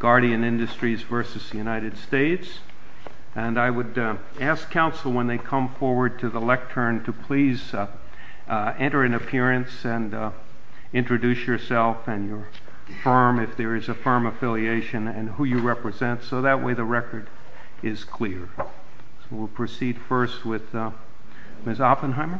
I would ask counsel when they come forward to the lectern to please enter an appearance and introduce yourself and your firm, if there is a firm affiliation, and who you represent, so that way the record is clear. We'll proceed first with Ms. Oppenheimer.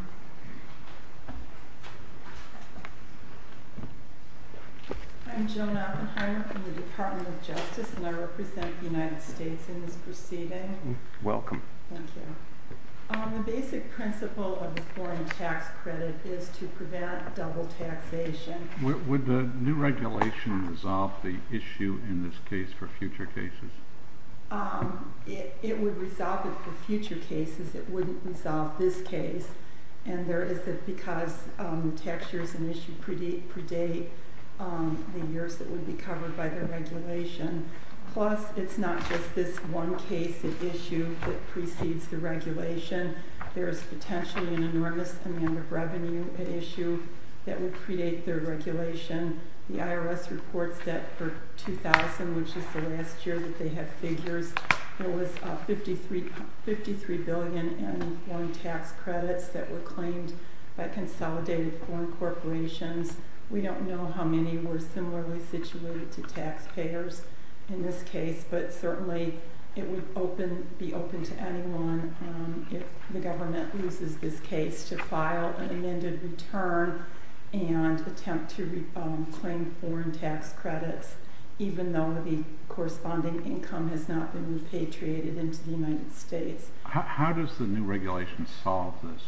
I'm Joan Oppenheimer from the Department of Justice, and I represent the United States in this proceeding. Welcome. Thank you. The basic principle of the foreign tax credit is to prevent double taxation. Would the new regulation resolve the issue in this case for future cases? It would resolve it for future cases. It wouldn't resolve this case. And there is that because the tax years in issue predate the years that would be covered by the regulation. Plus, it's not just this one case at issue that precedes the regulation. There is potentially an enormous amount of revenue at issue that would predate the regulation. The IRS reports that for 2000, which is the last year that they have figures, there was $53 billion in foreign tax credits that were claimed by consolidated foreign corporations. We don't know how many were similarly situated to taxpayers in this case, but certainly it would be open to anyone, if the government loses this case, to file an amended return and attempt to claim foreign tax credits, even though the corresponding income has not been repatriated into the United States. How does the new regulation solve this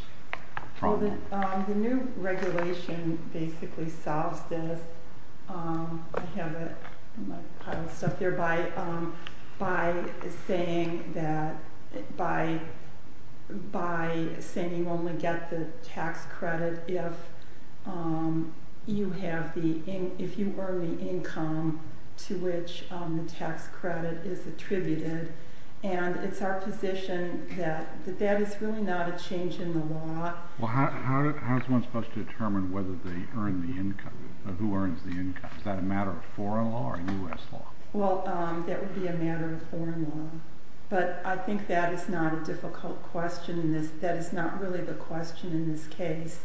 problem? The new regulation basically solves this by saying you only get the tax credit if you earn the income to which the tax credit is attributed. It's our position that that is really not a change in the law. How is one supposed to determine who earns the income? Is that a matter of foreign law or U.S. law? That would be a matter of foreign law, but I think that is not a difficult question. That is not really the question in this case.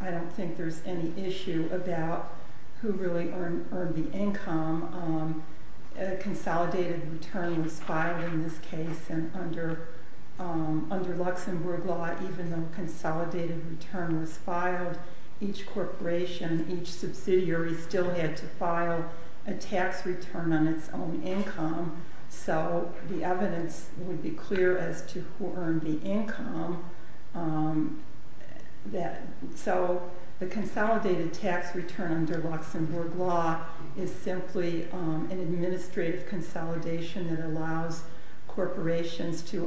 I don't think there's any issue about who really earned the income. A consolidated return was filed in this case, and under Luxembourg law, even though a consolidated return was filed, each corporation, each subsidiary, still had to file a tax return on its own income. The evidence would be clear as to who earned the income. The consolidated tax return under Luxembourg law is simply an administrative consolidation that allows corporations that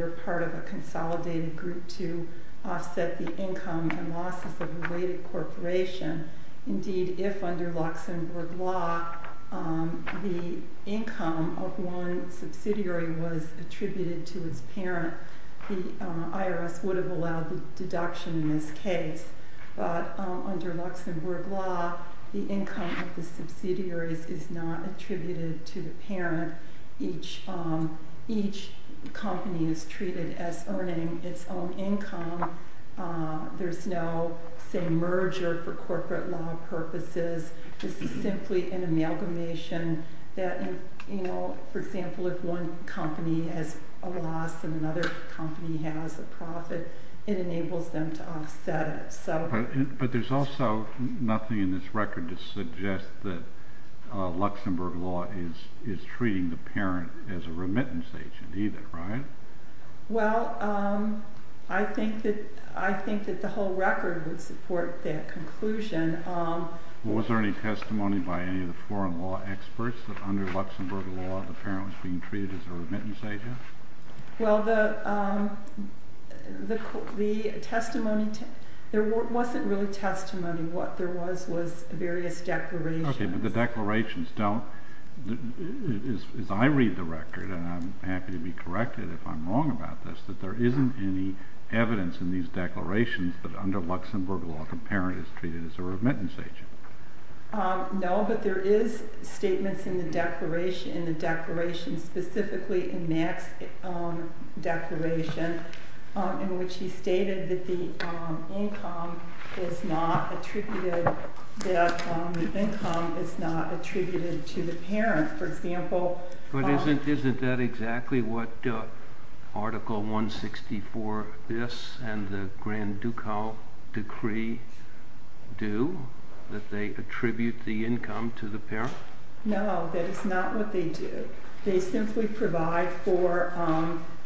are part of a consolidated group to offset the income and losses of a weighted corporation. Indeed, if under Luxembourg law, the income of one subsidiary was attributed to its parent, the IRS would have allowed the deduction in this case. But under Luxembourg law, the income of the subsidiaries is not attributed to the parent. Each company is treated as earning its own income. There's no merger for corporate law purposes. This is simply an amalgamation. For example, if one company has a loss and another company has a profit, it enables them to offset it. But there's also nothing in this record to suggest that Luxembourg law is treating the parent as a remittance agent either, right? Well, I think that the whole record would support that conclusion. Was there any testimony by any of the foreign law experts that under Luxembourg law, the parent was being treated as a remittance agent? Well, there wasn't really testimony. What there was was various declarations. Okay, but the declarations don't, as I read the record, and I'm happy to be corrected if I'm wrong about this, that there isn't any evidence in these declarations that under Luxembourg law, the parent is treated as a remittance agent. No, but there is statements in the declaration, specifically in Mack's declaration, in which he stated that the income is not attributed to the parent. But isn't that exactly what Article 164bis and the Grand Ducal Decree do, that they attribute the income to the parent? No, that is not what they do. They simply provide for,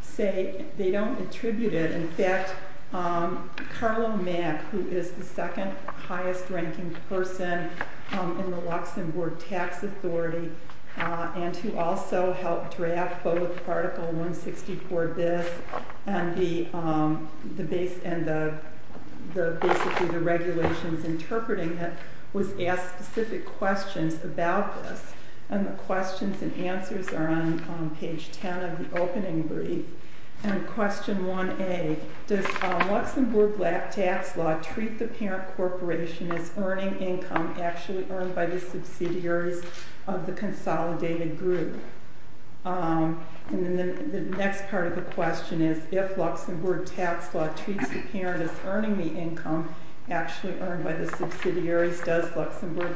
say, they don't attribute it. In fact, Carlo Mack, who is the second highest ranking person in the Luxembourg Tax Authority, and who also helped draft both Article 164bis and basically the regulations interpreting it, was asked specific questions about this. And the questions and answers are on page 10 of the opening brief. And question 1a, does Luxembourg tax law treat the parent corporation as earning income actually earned by the subsidiaries of the consolidated group? And then the next part of the question is, if Luxembourg tax law treats the parent as earning the income actually earned by the subsidiaries, does Luxembourg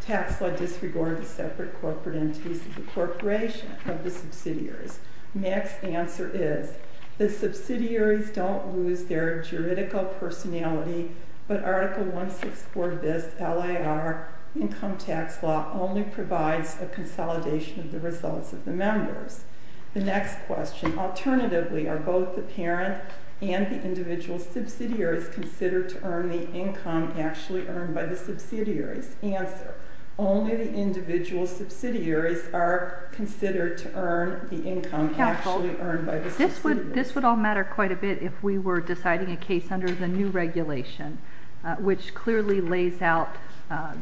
tax law disregard the separate corporate entities of the corporation of the subsidiaries? Mack's answer is, the subsidiaries don't lose their juridical personality, but Article 164bis LIR income tax law only provides a consolidation of the results of the members. The next question, alternatively, are both the parent and the individual subsidiaries considered to earn the income actually earned by the subsidiaries? Only the individual subsidiaries are considered to earn the income actually earned by the subsidiaries. This would all matter quite a bit if we were deciding a case under the new regulation, which clearly lays out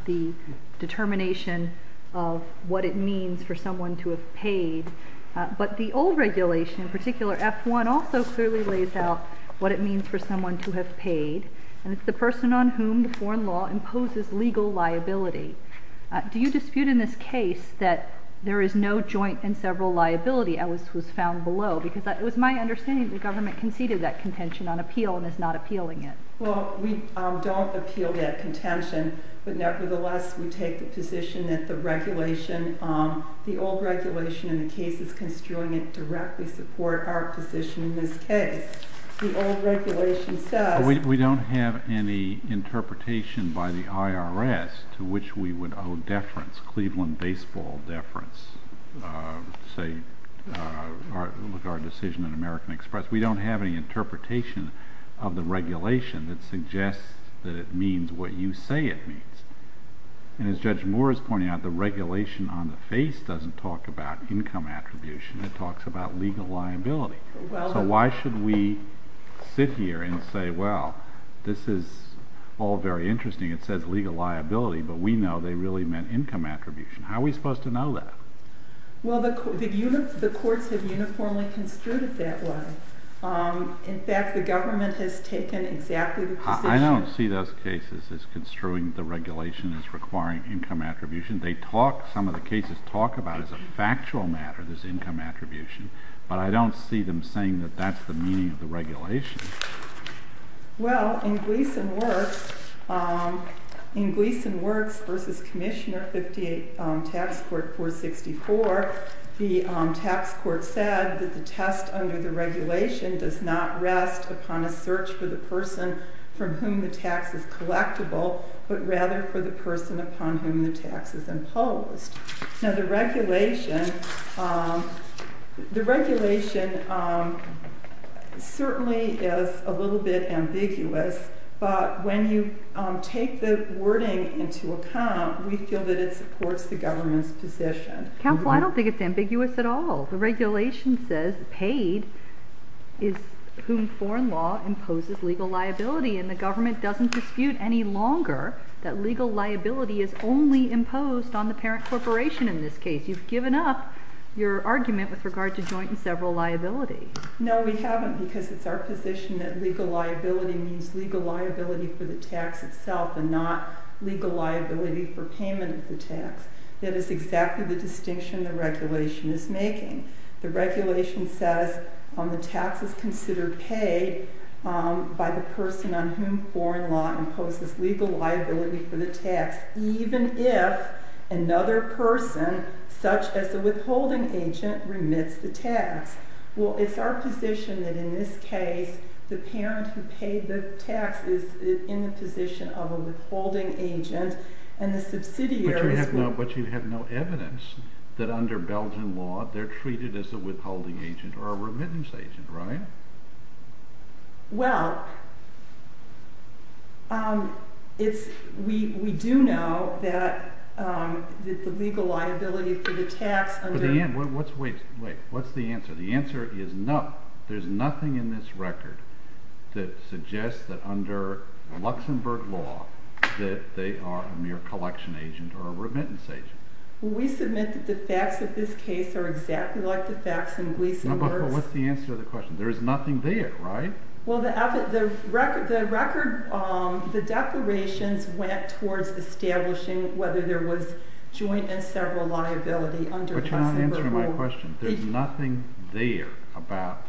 the determination of what it means for someone to have paid. But the old regulation, in particular F1, also clearly lays out what it means for someone to have paid, and it's the person on whom the foreign law imposes legal liability. Do you dispute in this case that there is no joint and several liability, as was found below? Because it was my understanding that the government conceded that contention on appeal and is not appealing it. Well, we don't appeal that contention, but nevertheless we take the position that the old regulation and the cases construing it directly support our position in this case. The old regulation says… Well, we don't have any interpretation by the IRS to which we would owe deference, Cleveland baseball deference, say, our decision in American Express. We don't have any interpretation of the regulation that suggests that it means what you say it means. And as Judge Moore is pointing out, the regulation on the face doesn't talk about income attribution. It talks about legal liability. So why should we sit here and say, well, this is all very interesting. It says legal liability, but we know they really meant income attribution. How are we supposed to know that? Well, the courts have uniformly construed it that way. In fact, the government has taken exactly the position… I don't see those cases as construing the regulation as requiring income attribution. Some of the cases talk about it as a factual matter, this income attribution, but I don't see them saying that that's the meaning of the regulation. Well, in Gleason Works v. Commissioner 58, Tax Court 464, the tax court said that the test under the regulation does not rest upon a search for the person from whom the tax is collectible, but rather for the person upon whom the tax is imposed. Now, the regulation certainly is a little bit ambiguous, but when you take the wording into account, we feel that it supports the government's position. Counsel, I don't think it's ambiguous at all. The regulation says paid is whom foreign law imposes legal liability, and the government doesn't dispute any longer that legal liability is only imposed on the parent corporation in this case. You've given up your argument with regard to joint and several liabilities. No, we haven't, because it's our position that legal liability means legal liability for the tax itself and not legal liability for payment of the tax. That is exactly the distinction the regulation is making. The regulation says the tax is considered paid by the person on whom foreign law imposes legal liability for the tax, even if another person, such as a withholding agent, remits the tax. Well, it's our position that in this case, the parent who paid the tax is in the position of a withholding agent, and the subsidiaries will— —be treated as a withholding agent or a remittance agent, right? Well, we do know that the legal liability for the tax under— Wait, what's the answer? The answer is no. There's nothing in this record that suggests that under Luxembourg law that they are a mere collection agent or a remittance agent. Well, we submit that the facts of this case are exactly like the facts in Gleason— No, but what's the answer to the question? There is nothing there, right? Well, the record—the declarations went towards establishing whether there was joint and several liability under Luxembourg law. But you're not answering my question. There's nothing there about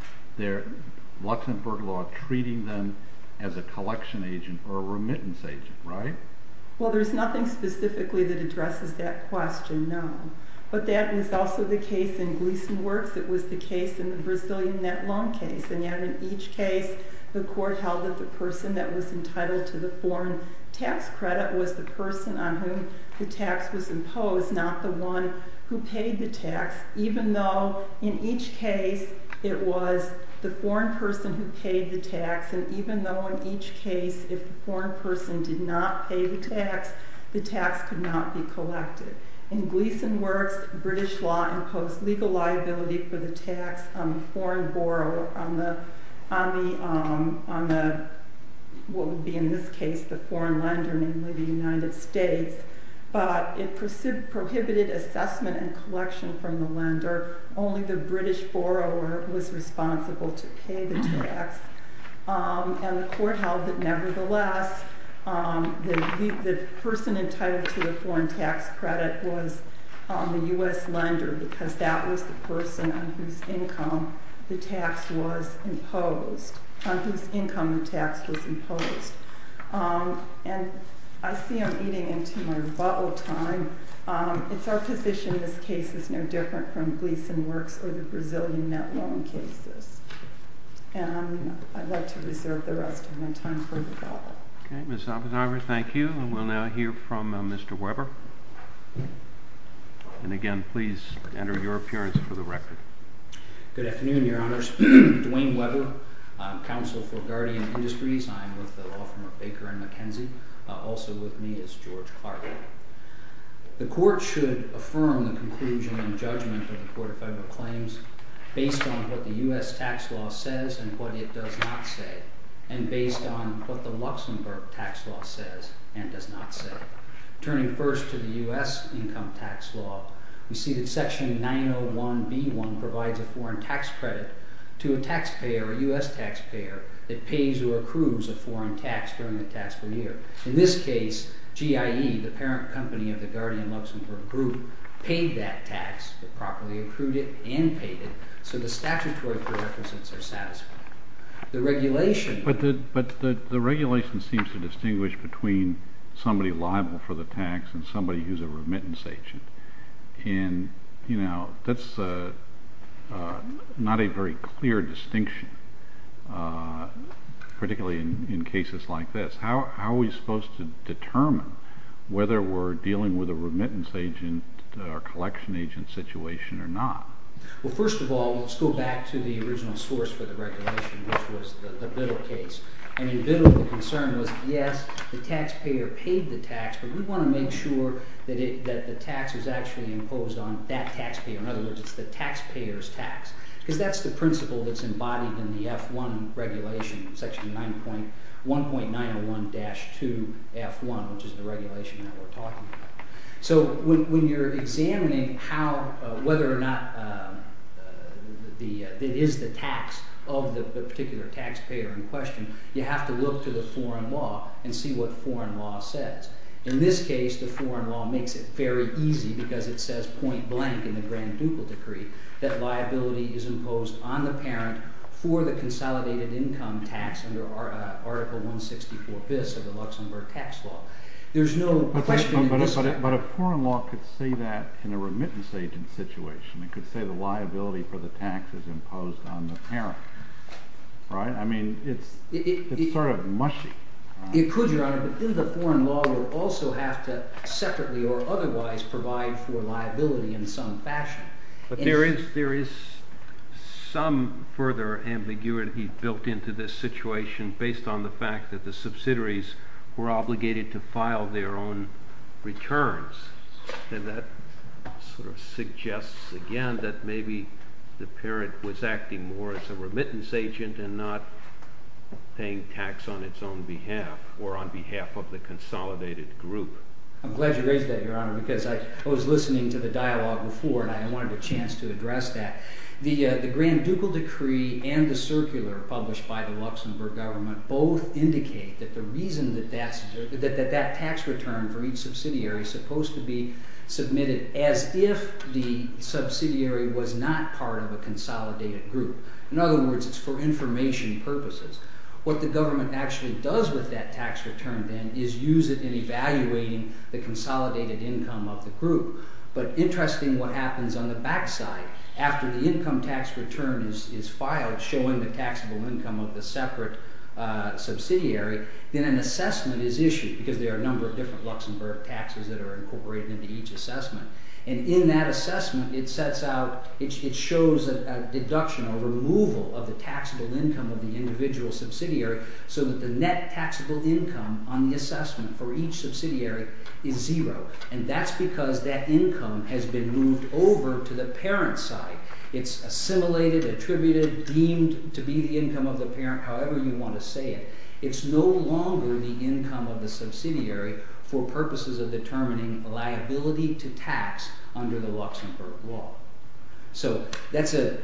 Luxembourg law treating them as a collection agent or a remittance agent, right? Well, there's nothing specifically that addresses that question, no. But that was also the case in Gleason Works. It was the case in the Brazilian net loan case. And yet in each case, the court held that the person that was entitled to the foreign tax credit was the person on whom the tax was imposed, not the one who paid the tax, even though in each case it was the foreign person who paid the tax. And even though in each case if the foreign person did not pay the tax, the tax could not be collected. In Gleason Works, British law imposed legal liability for the tax on the foreign borrower, on what would be in this case the foreign lender, namely the United States. But it prohibited assessment and collection from the lender. Only the British borrower was responsible to pay the tax. And the court held that nevertheless, the person entitled to the foreign tax credit was the U.S. lender, because that was the person on whose income the tax was imposed, on whose income the tax was imposed. And I see I'm eating into my rebuttal time. It's our position this case is no different from Gleason Works or the Brazilian net loan cases. And I'd like to reserve the rest of my time for rebuttal. Okay, Ms. Oppenheimer, thank you. And we'll now hear from Mr. Weber. And again, please enter your appearance for the record. Good afternoon, Your Honors. Dwayne Weber, Counsel for Guardian Industries. I'm with the law firm of Baker and McKenzie. Also with me is George Carter. The court should affirm the conclusion and judgment of the Court of Federal Claims based on what the U.S. tax law says and what it does not say, and based on what the Luxembourg tax law says and does not say. Turning first to the U.S. income tax law, we see that Section 901B1 provides a foreign tax credit to a taxpayer, a U.S. taxpayer, that pays or accrues a foreign tax during the taxable year. In this case, GIE, the parent company of the Guardian Luxembourg Group, paid that tax, it properly accrued it and paid it, so the statutory prerequisites are satisfied. The regulation... But the regulation seems to distinguish between somebody liable for the tax and somebody who's a remittance agent. And, you know, that's not a very clear distinction, particularly in cases like this. How are we supposed to determine whether we're dealing with a remittance agent or a collection agent situation or not? Well, first of all, let's go back to the original source for the regulation, which was the Biddle case. I mean, Biddle, the concern was, yes, the taxpayer paid the tax, but we want to make sure that the tax is actually imposed on that taxpayer. In other words, it's the taxpayer's tax, because that's the principle that's embodied in the F1 regulation, Section 1.901-2F1, which is the regulation that we're talking about. So when you're examining whether or not it is the tax of the particular taxpayer in question, you have to look to the foreign law and see what foreign law says. In this case, the foreign law makes it very easy, because it says point blank in the Grand Ducal Decree that liability is imposed on the parent for the consolidated income tax under Article 164bis of the Luxembourg Tax Law. There's no question in this case. But a foreign law could say that in a remittance agent situation. It could say the liability for the tax is imposed on the parent, right? I mean, it's sort of mushy. It could, Your Honor, but then the foreign law would also have to separately or otherwise provide for liability in some fashion. But there is some further ambiguity built into this situation based on the fact that the subsidiaries were obligated to file their own returns. And that sort of suggests again that maybe the parent was acting more as a remittance agent and not paying tax on its own behalf or on behalf of the consolidated group. I'm glad you raised that, Your Honor, because I was listening to the dialogue before and I wanted a chance to address that. The Grand Ducal Decree and the circular published by the Luxembourg government both indicate that the reason that that tax return for each subsidiary is supposed to be submitted as if the subsidiary was not part of a consolidated group. In other words, it's for information purposes. What the government actually does with that tax return then is use it in evaluating the consolidated income of the group. But interesting what happens on the back side. After the income tax return is filed, showing the taxable income of the separate subsidiary, then an assessment is issued, because there are a number of different Luxembourg taxes that are incorporated into each assessment. And in that assessment, it shows a deduction, a removal of the taxable income of the individual subsidiary so that the net taxable income on the assessment for each subsidiary is zero. And that's because that income has been moved over to the parent's side. It's assimilated, attributed, deemed to be the income of the parent, however you want to say it. It's no longer the income of the subsidiary for purposes of determining liability to tax under the Luxembourg law. So the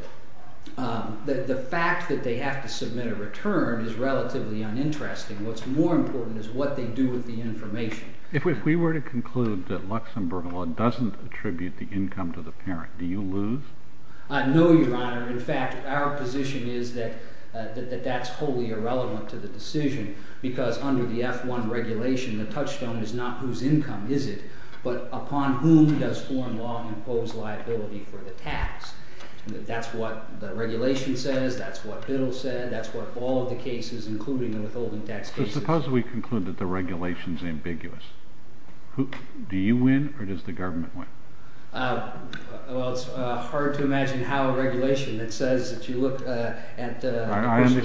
fact that they have to submit a return is relatively uninteresting. What's more important is what they do with the information. If we were to conclude that Luxembourg law doesn't attribute the income to the parent, do you lose? No, Your Honor. In fact, our position is that that's wholly irrelevant to the decision because under the F-1 regulation, the touchstone is not whose income is it, but upon whom does foreign law impose liability for the tax. That's what the regulation says. That's what Biddle said. That's what all of the cases, including the withholding tax cases. Suppose we conclude that the regulation is ambiguous. Do you win or does the government win? Well, it's hard to imagine how a regulation that says that you look at the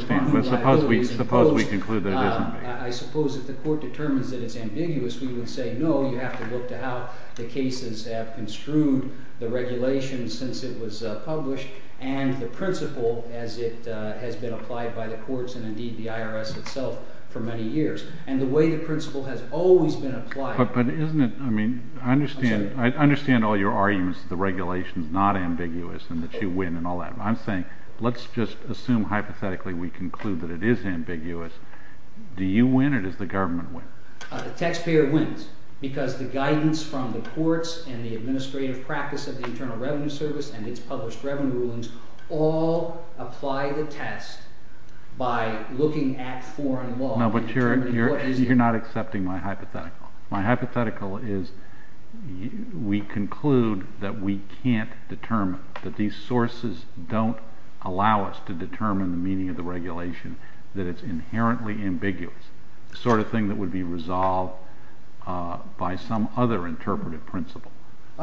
person Suppose we conclude that it is ambiguous. I suppose if the court determines that it's ambiguous, we would say, no, you have to look to how the cases have construed the regulation since it was published and the principle as it has been applied by the courts and, indeed, the IRS itself for many years. And the way the principle has always been applied. But isn't it, I mean, I understand all your arguments that the regulation is not ambiguous and that you win and all that. I'm saying let's just assume hypothetically we conclude that it is ambiguous. Do you win or does the government win? The taxpayer wins because the guidance from the courts and the administrative practice of the Internal Revenue Service and its published revenue rulings all apply the test by looking at foreign law. No, but you're not accepting my hypothetical. My hypothetical is we conclude that we can't determine, that these sources don't allow us to determine the meaning of the regulation, that it's inherently ambiguous, the sort of thing that would be resolved by some other interpretive principle.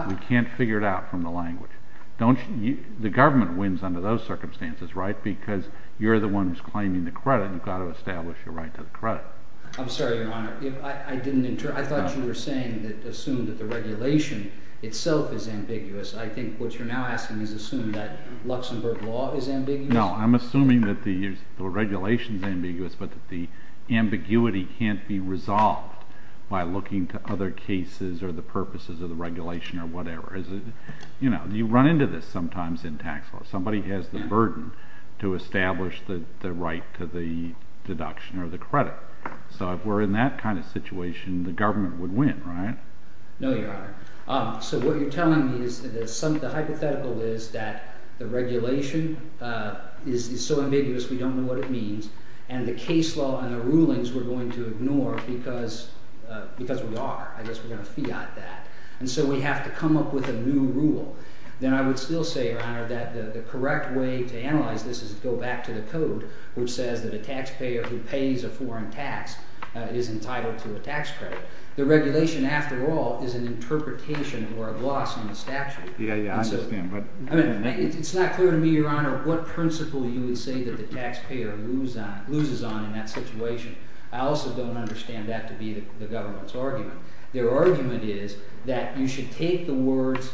We can't figure it out from the language. The government wins under those circumstances, right, because you're the one who's claiming the credit and you've got to establish a right to the credit. I'm sorry, Your Honor. I thought you were saying that assuming that the regulation itself is ambiguous. I think what you're now asking is assuming that Luxembourg law is ambiguous. No, I'm assuming that the regulation is ambiguous but that the ambiguity can't be resolved by looking to other cases or the purposes of the regulation or whatever. You know, you run into this sometimes in tax law. Somebody has the burden to establish the right to the deduction or the credit. So if we're in that kind of situation, the government would win, right? No, Your Honor. So what you're telling me is the hypothetical is that the regulation is so ambiguous we don't know what it means, and the case law and the rulings we're going to ignore because we are. I guess we're going to fiat that. And so we have to come up with a new rule. Then I would still say, Your Honor, that the correct way to analyze this is to go back to the code, which says that a taxpayer who pays a foreign tax is entitled to a tax credit. The regulation, after all, is an interpretation or a gloss on the statute. Yeah, yeah, I understand. I mean, it's not clear to me, Your Honor, what principle you would say that the taxpayer loses on in that situation. I also don't understand that to be the government's argument. Their argument is that you should take the words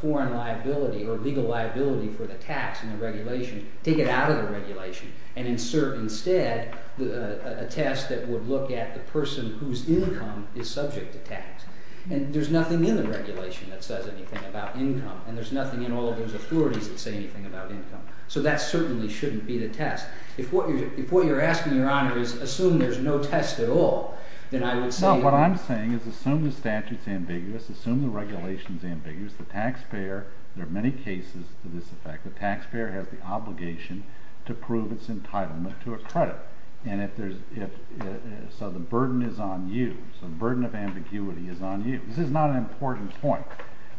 foreign liability or legal liability for the tax in the regulation, take it out of the regulation, and insert instead a test that would look at the person whose income is subject to tax. And there's nothing in the regulation that says anything about income, and there's nothing in all of those authorities that say anything about income. So that certainly shouldn't be the test. If what you're asking, Your Honor, is assume there's no test at all, then I would say— So what I'm saying is assume the statute's ambiguous, assume the regulation's ambiguous, the taxpayer—there are many cases to this effect— the taxpayer has the obligation to prove its entitlement to a credit. And if there's—so the burden is on you. So the burden of ambiguity is on you. This is not an important point,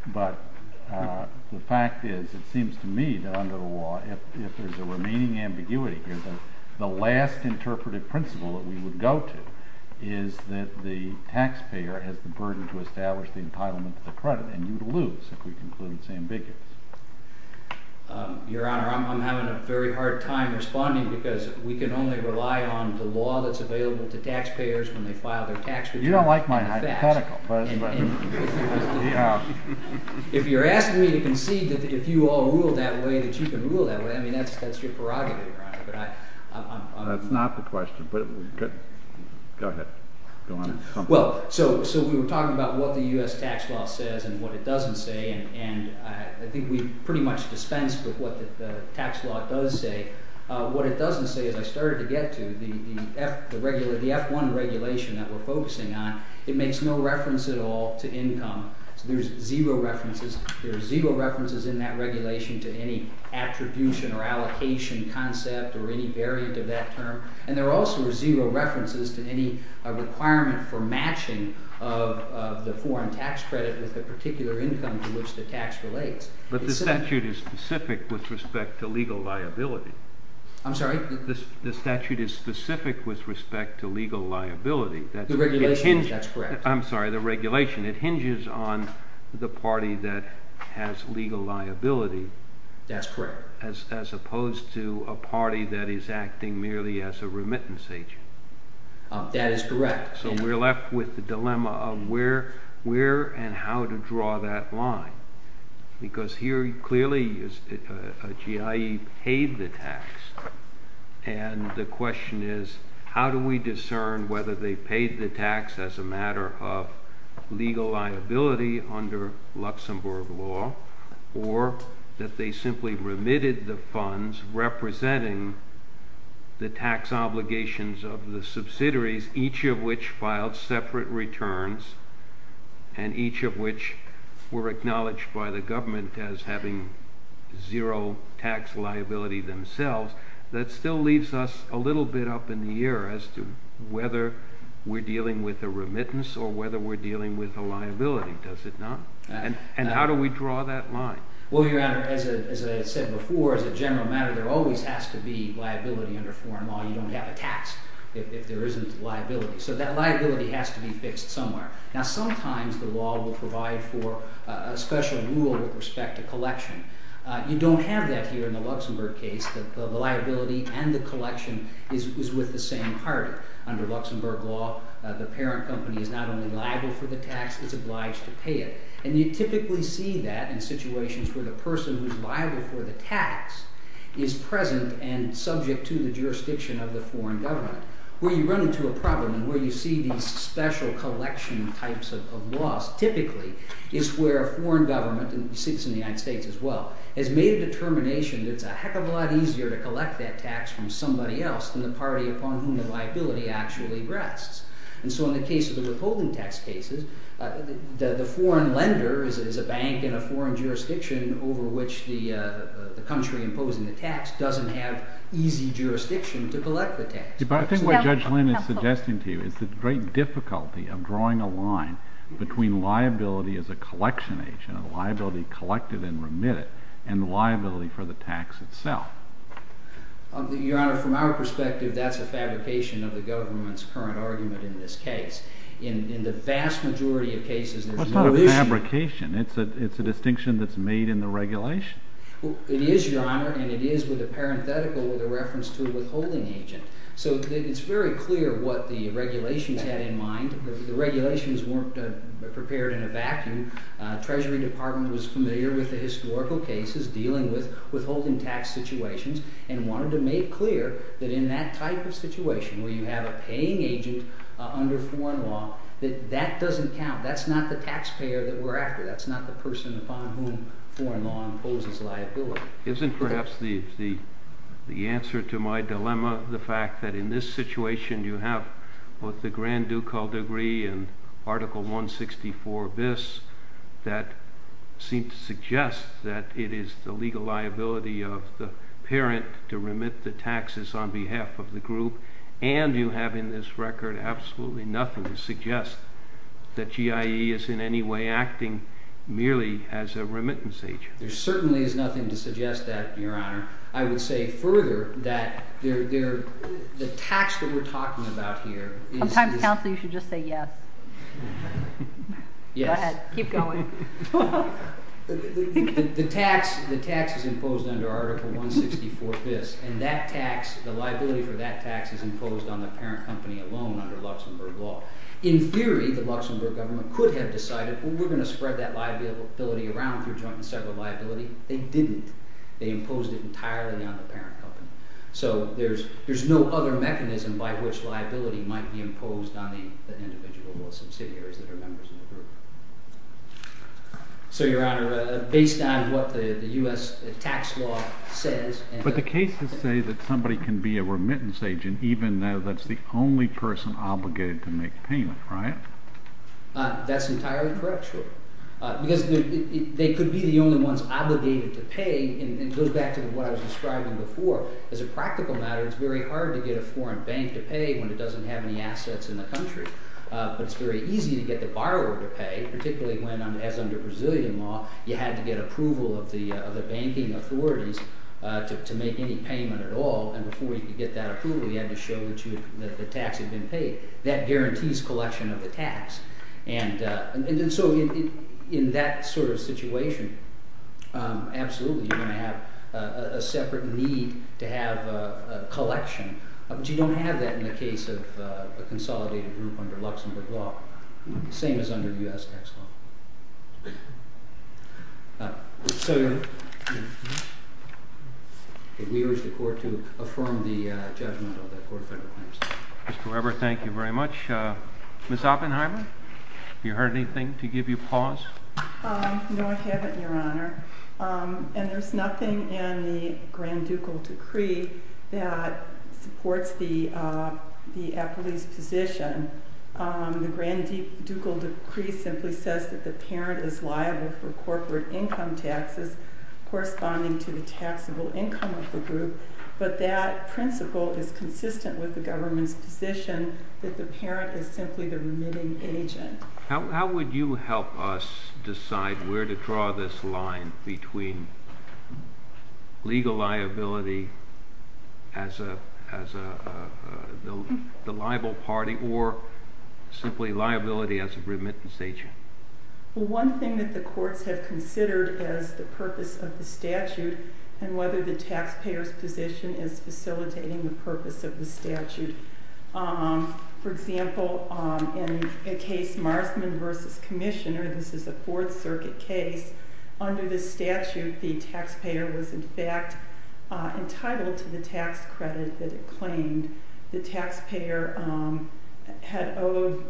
but the fact is it seems to me that under the law, if there's a remaining ambiguity here, the last interpretive principle that we would go to is that the taxpayer has the burden to establish the entitlement to the credit, and you'd lose if we concluded it's ambiguous. Your Honor, I'm having a very hard time responding because we can only rely on the law that's available to taxpayers when they file their tax returns. You don't like my hypothetical, but— If you're asking me to concede that if you all rule that way, that you can rule that way, I mean, that's your prerogative, Your Honor, but I'm— That's not the question, but—go ahead. Well, so we were talking about what the U.S. tax law says and what it doesn't say, and I think we pretty much dispensed with what the tax law does say. What it doesn't say, as I started to get to, the F1 regulation that we're focusing on, it makes no reference at all to income. So there's zero references. There are zero references in that regulation to any attribution or allocation concept or any variant of that term, and there also are zero references to any requirement for matching of the foreign tax credit with the particular income to which the tax relates. But the statute is specific with respect to legal liability. I'm sorry? The statute is specific with respect to legal liability. The regulation? That's correct. I'm sorry, the regulation. It hinges on the party that has legal liability. That's correct. As opposed to a party that is acting merely as a remittance agent. That is correct. So we're left with the dilemma of where and how to draw that line because here clearly a GIE paid the tax, and the question is how do we discern whether they paid the tax as a matter of legal liability under Luxembourg law or that they simply remitted the funds representing the tax obligations of the subsidiaries, each of which filed separate returns and each of which were acknowledged by the government as having zero tax liability themselves. That still leaves us a little bit up in the air as to whether we're dealing with a remittance or whether we're dealing with a liability, does it not? And how do we draw that line? Well, Your Honor, as I said before, as a general matter, there always has to be liability under foreign law. You don't have a tax if there isn't liability. So that liability has to be fixed somewhere. Now sometimes the law will provide for a special rule with respect to collection. You don't have that here in the Luxembourg case. The liability and the collection is with the same party. Under Luxembourg law, the parent company is not only liable for the tax, it's obliged to pay it. And you typically see that in situations where the person who's liable for the tax is present and subject to the jurisdiction of the foreign government. Where you run into a problem and where you see these special collection types of laws typically is where a foreign government, and it sits in the United States as well, has made a determination that it's a heck of a lot easier to collect that tax from somebody else than the party upon whom the liability actually rests. And so in the case of the withholding tax cases, the foreign lender is a bank in a foreign jurisdiction over which the country imposing the tax doesn't have easy jurisdiction to collect the tax. But I think what Judge Lynn is suggesting to you is the great difficulty of drawing a line between liability as a collection agent, liability collected and remitted, and liability for the tax itself. Your Honor, from our perspective, that's a fabrication of the government's current argument in this case. In the vast majority of cases, there's no issue. What part of fabrication? It's a distinction that's made in the regulation? It is, Your Honor, and it is with a parenthetical with a reference to a withholding agent. So it's very clear what the regulations had in mind. The regulations weren't prepared in a vacuum. Treasury Department was familiar with the historical cases dealing with withholding tax situations and wanted to make clear that in that type of situation where you have a paying agent under foreign law, that that doesn't count. That's not the taxpayer that we're after. That's not the person upon whom foreign law imposes liability. Isn't perhaps the answer to my dilemma the fact that in this situation you have both the Grand Ducal Degree and Article 164bis that seem to suggest that it is the legal liability of the parent to remit the taxes on behalf of the group, and you have in this record absolutely nothing to suggest that GIE is in any way acting merely as a remittance agent. There certainly is nothing to suggest that, Your Honor. I would say further that the tax that we're talking about, Sometimes, counsel, you should just say yes. Go ahead. Keep going. The tax is imposed under Article 164bis, and the liability for that tax is imposed on the parent company alone under Luxembourg law. In theory, the Luxembourg government could have decided we're going to spread that liability around through joint and separate liability. They didn't. They imposed it entirely on the parent company. So there's no other mechanism by which liability might be imposed on the individual or subsidiaries that are members of the group. So, Your Honor, based on what the US tax law says... But the cases say that somebody can be a remittance agent even though that's the only person obligated to make payment, right? That's entirely correct, sure. Because they could be the only ones obligated to pay, and it goes back to what I was describing before, as a practical matter, it's very hard to get a foreign bank to pay when it doesn't have any assets in the country. But it's very easy to get the borrower to pay, particularly when, as under Brazilian law, you had to get approval of the banking authorities to make any payment at all, and before you could get that approval, you had to show that the tax had been paid. That guarantees collection of the tax. And so in that sort of situation, absolutely, you're going to have a separate need to have a collection, but you don't have that in the case of a consolidated group under Luxembourg law, the same as under US tax law. So, Your Honor, we urge the Court to affirm the judgment of the Court of Federal Claims. Mr. Weber, thank you very much. Ms. Oppenheimer, have you heard anything to give you pause? No, I haven't, Your Honor. And there's nothing in the Grand Ducal Decree that supports the applicant's position. The Grand Ducal Decree simply says that the parent is liable for corporate income taxes corresponding to the taxable income of the group, but that principle is consistent with the government's position that the parent is simply the remitting agent. How would you help us decide where to draw this line between legal liability as the liable party or simply liability as a remittance agent? Well, one thing that the courts have considered is the purpose of the statute and whether the taxpayer's position is facilitating the purpose of the statute. For example, in the case Marsman v. Commissioner, this is a Fourth Circuit case, under the statute the taxpayer was in fact entitled to the tax credit that it claimed. The taxpayer had owed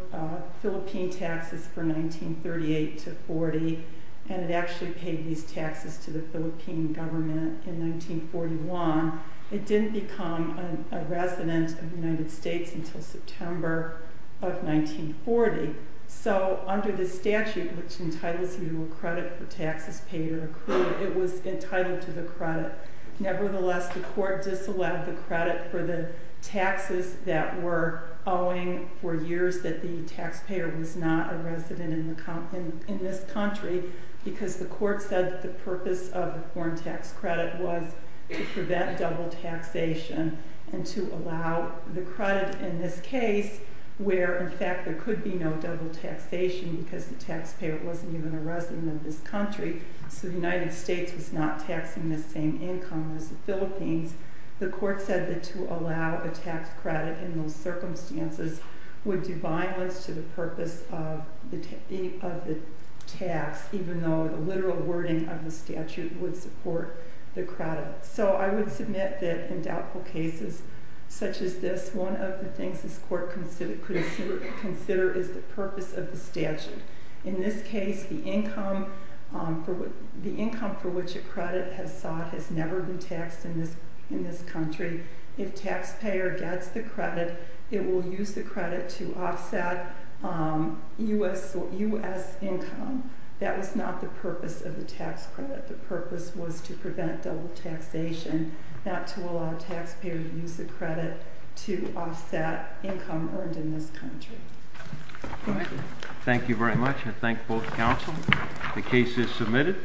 Philippine taxes for 1938 to 40, and it actually paid these taxes to the Philippine government in 1941. It didn't become a resident of the United States until September of 1940. So under the statute, which entitles you to a credit for taxes paid or accrued, it was entitled to the credit. Nevertheless, the court disallowed the credit for the taxes that were owing for years that the taxpayer was not a resident in this country because the court said the purpose of the foreign tax credit was to prevent double taxation and to allow the credit in this case where in fact there could be no double taxation because the taxpayer wasn't even a resident of this country, so the United States was not taxing the same income as the Philippines. The court said that to allow a tax credit in those circumstances would do violence to the purpose of the tax, even though the literal wording of the statute would support the credit. So I would submit that in doubtful cases such as this, one of the things this court could consider is the purpose of the statute. In this case, the income for which a credit has sought has never been taxed in this country. If taxpayer gets the credit, it will use the credit to offset U.S. income. That was not the purpose of the tax credit. The purpose was to prevent double taxation, not to allow taxpayer to use the credit to offset income earned in this country. Thank you very much. I thank both counsel. The case is submitted.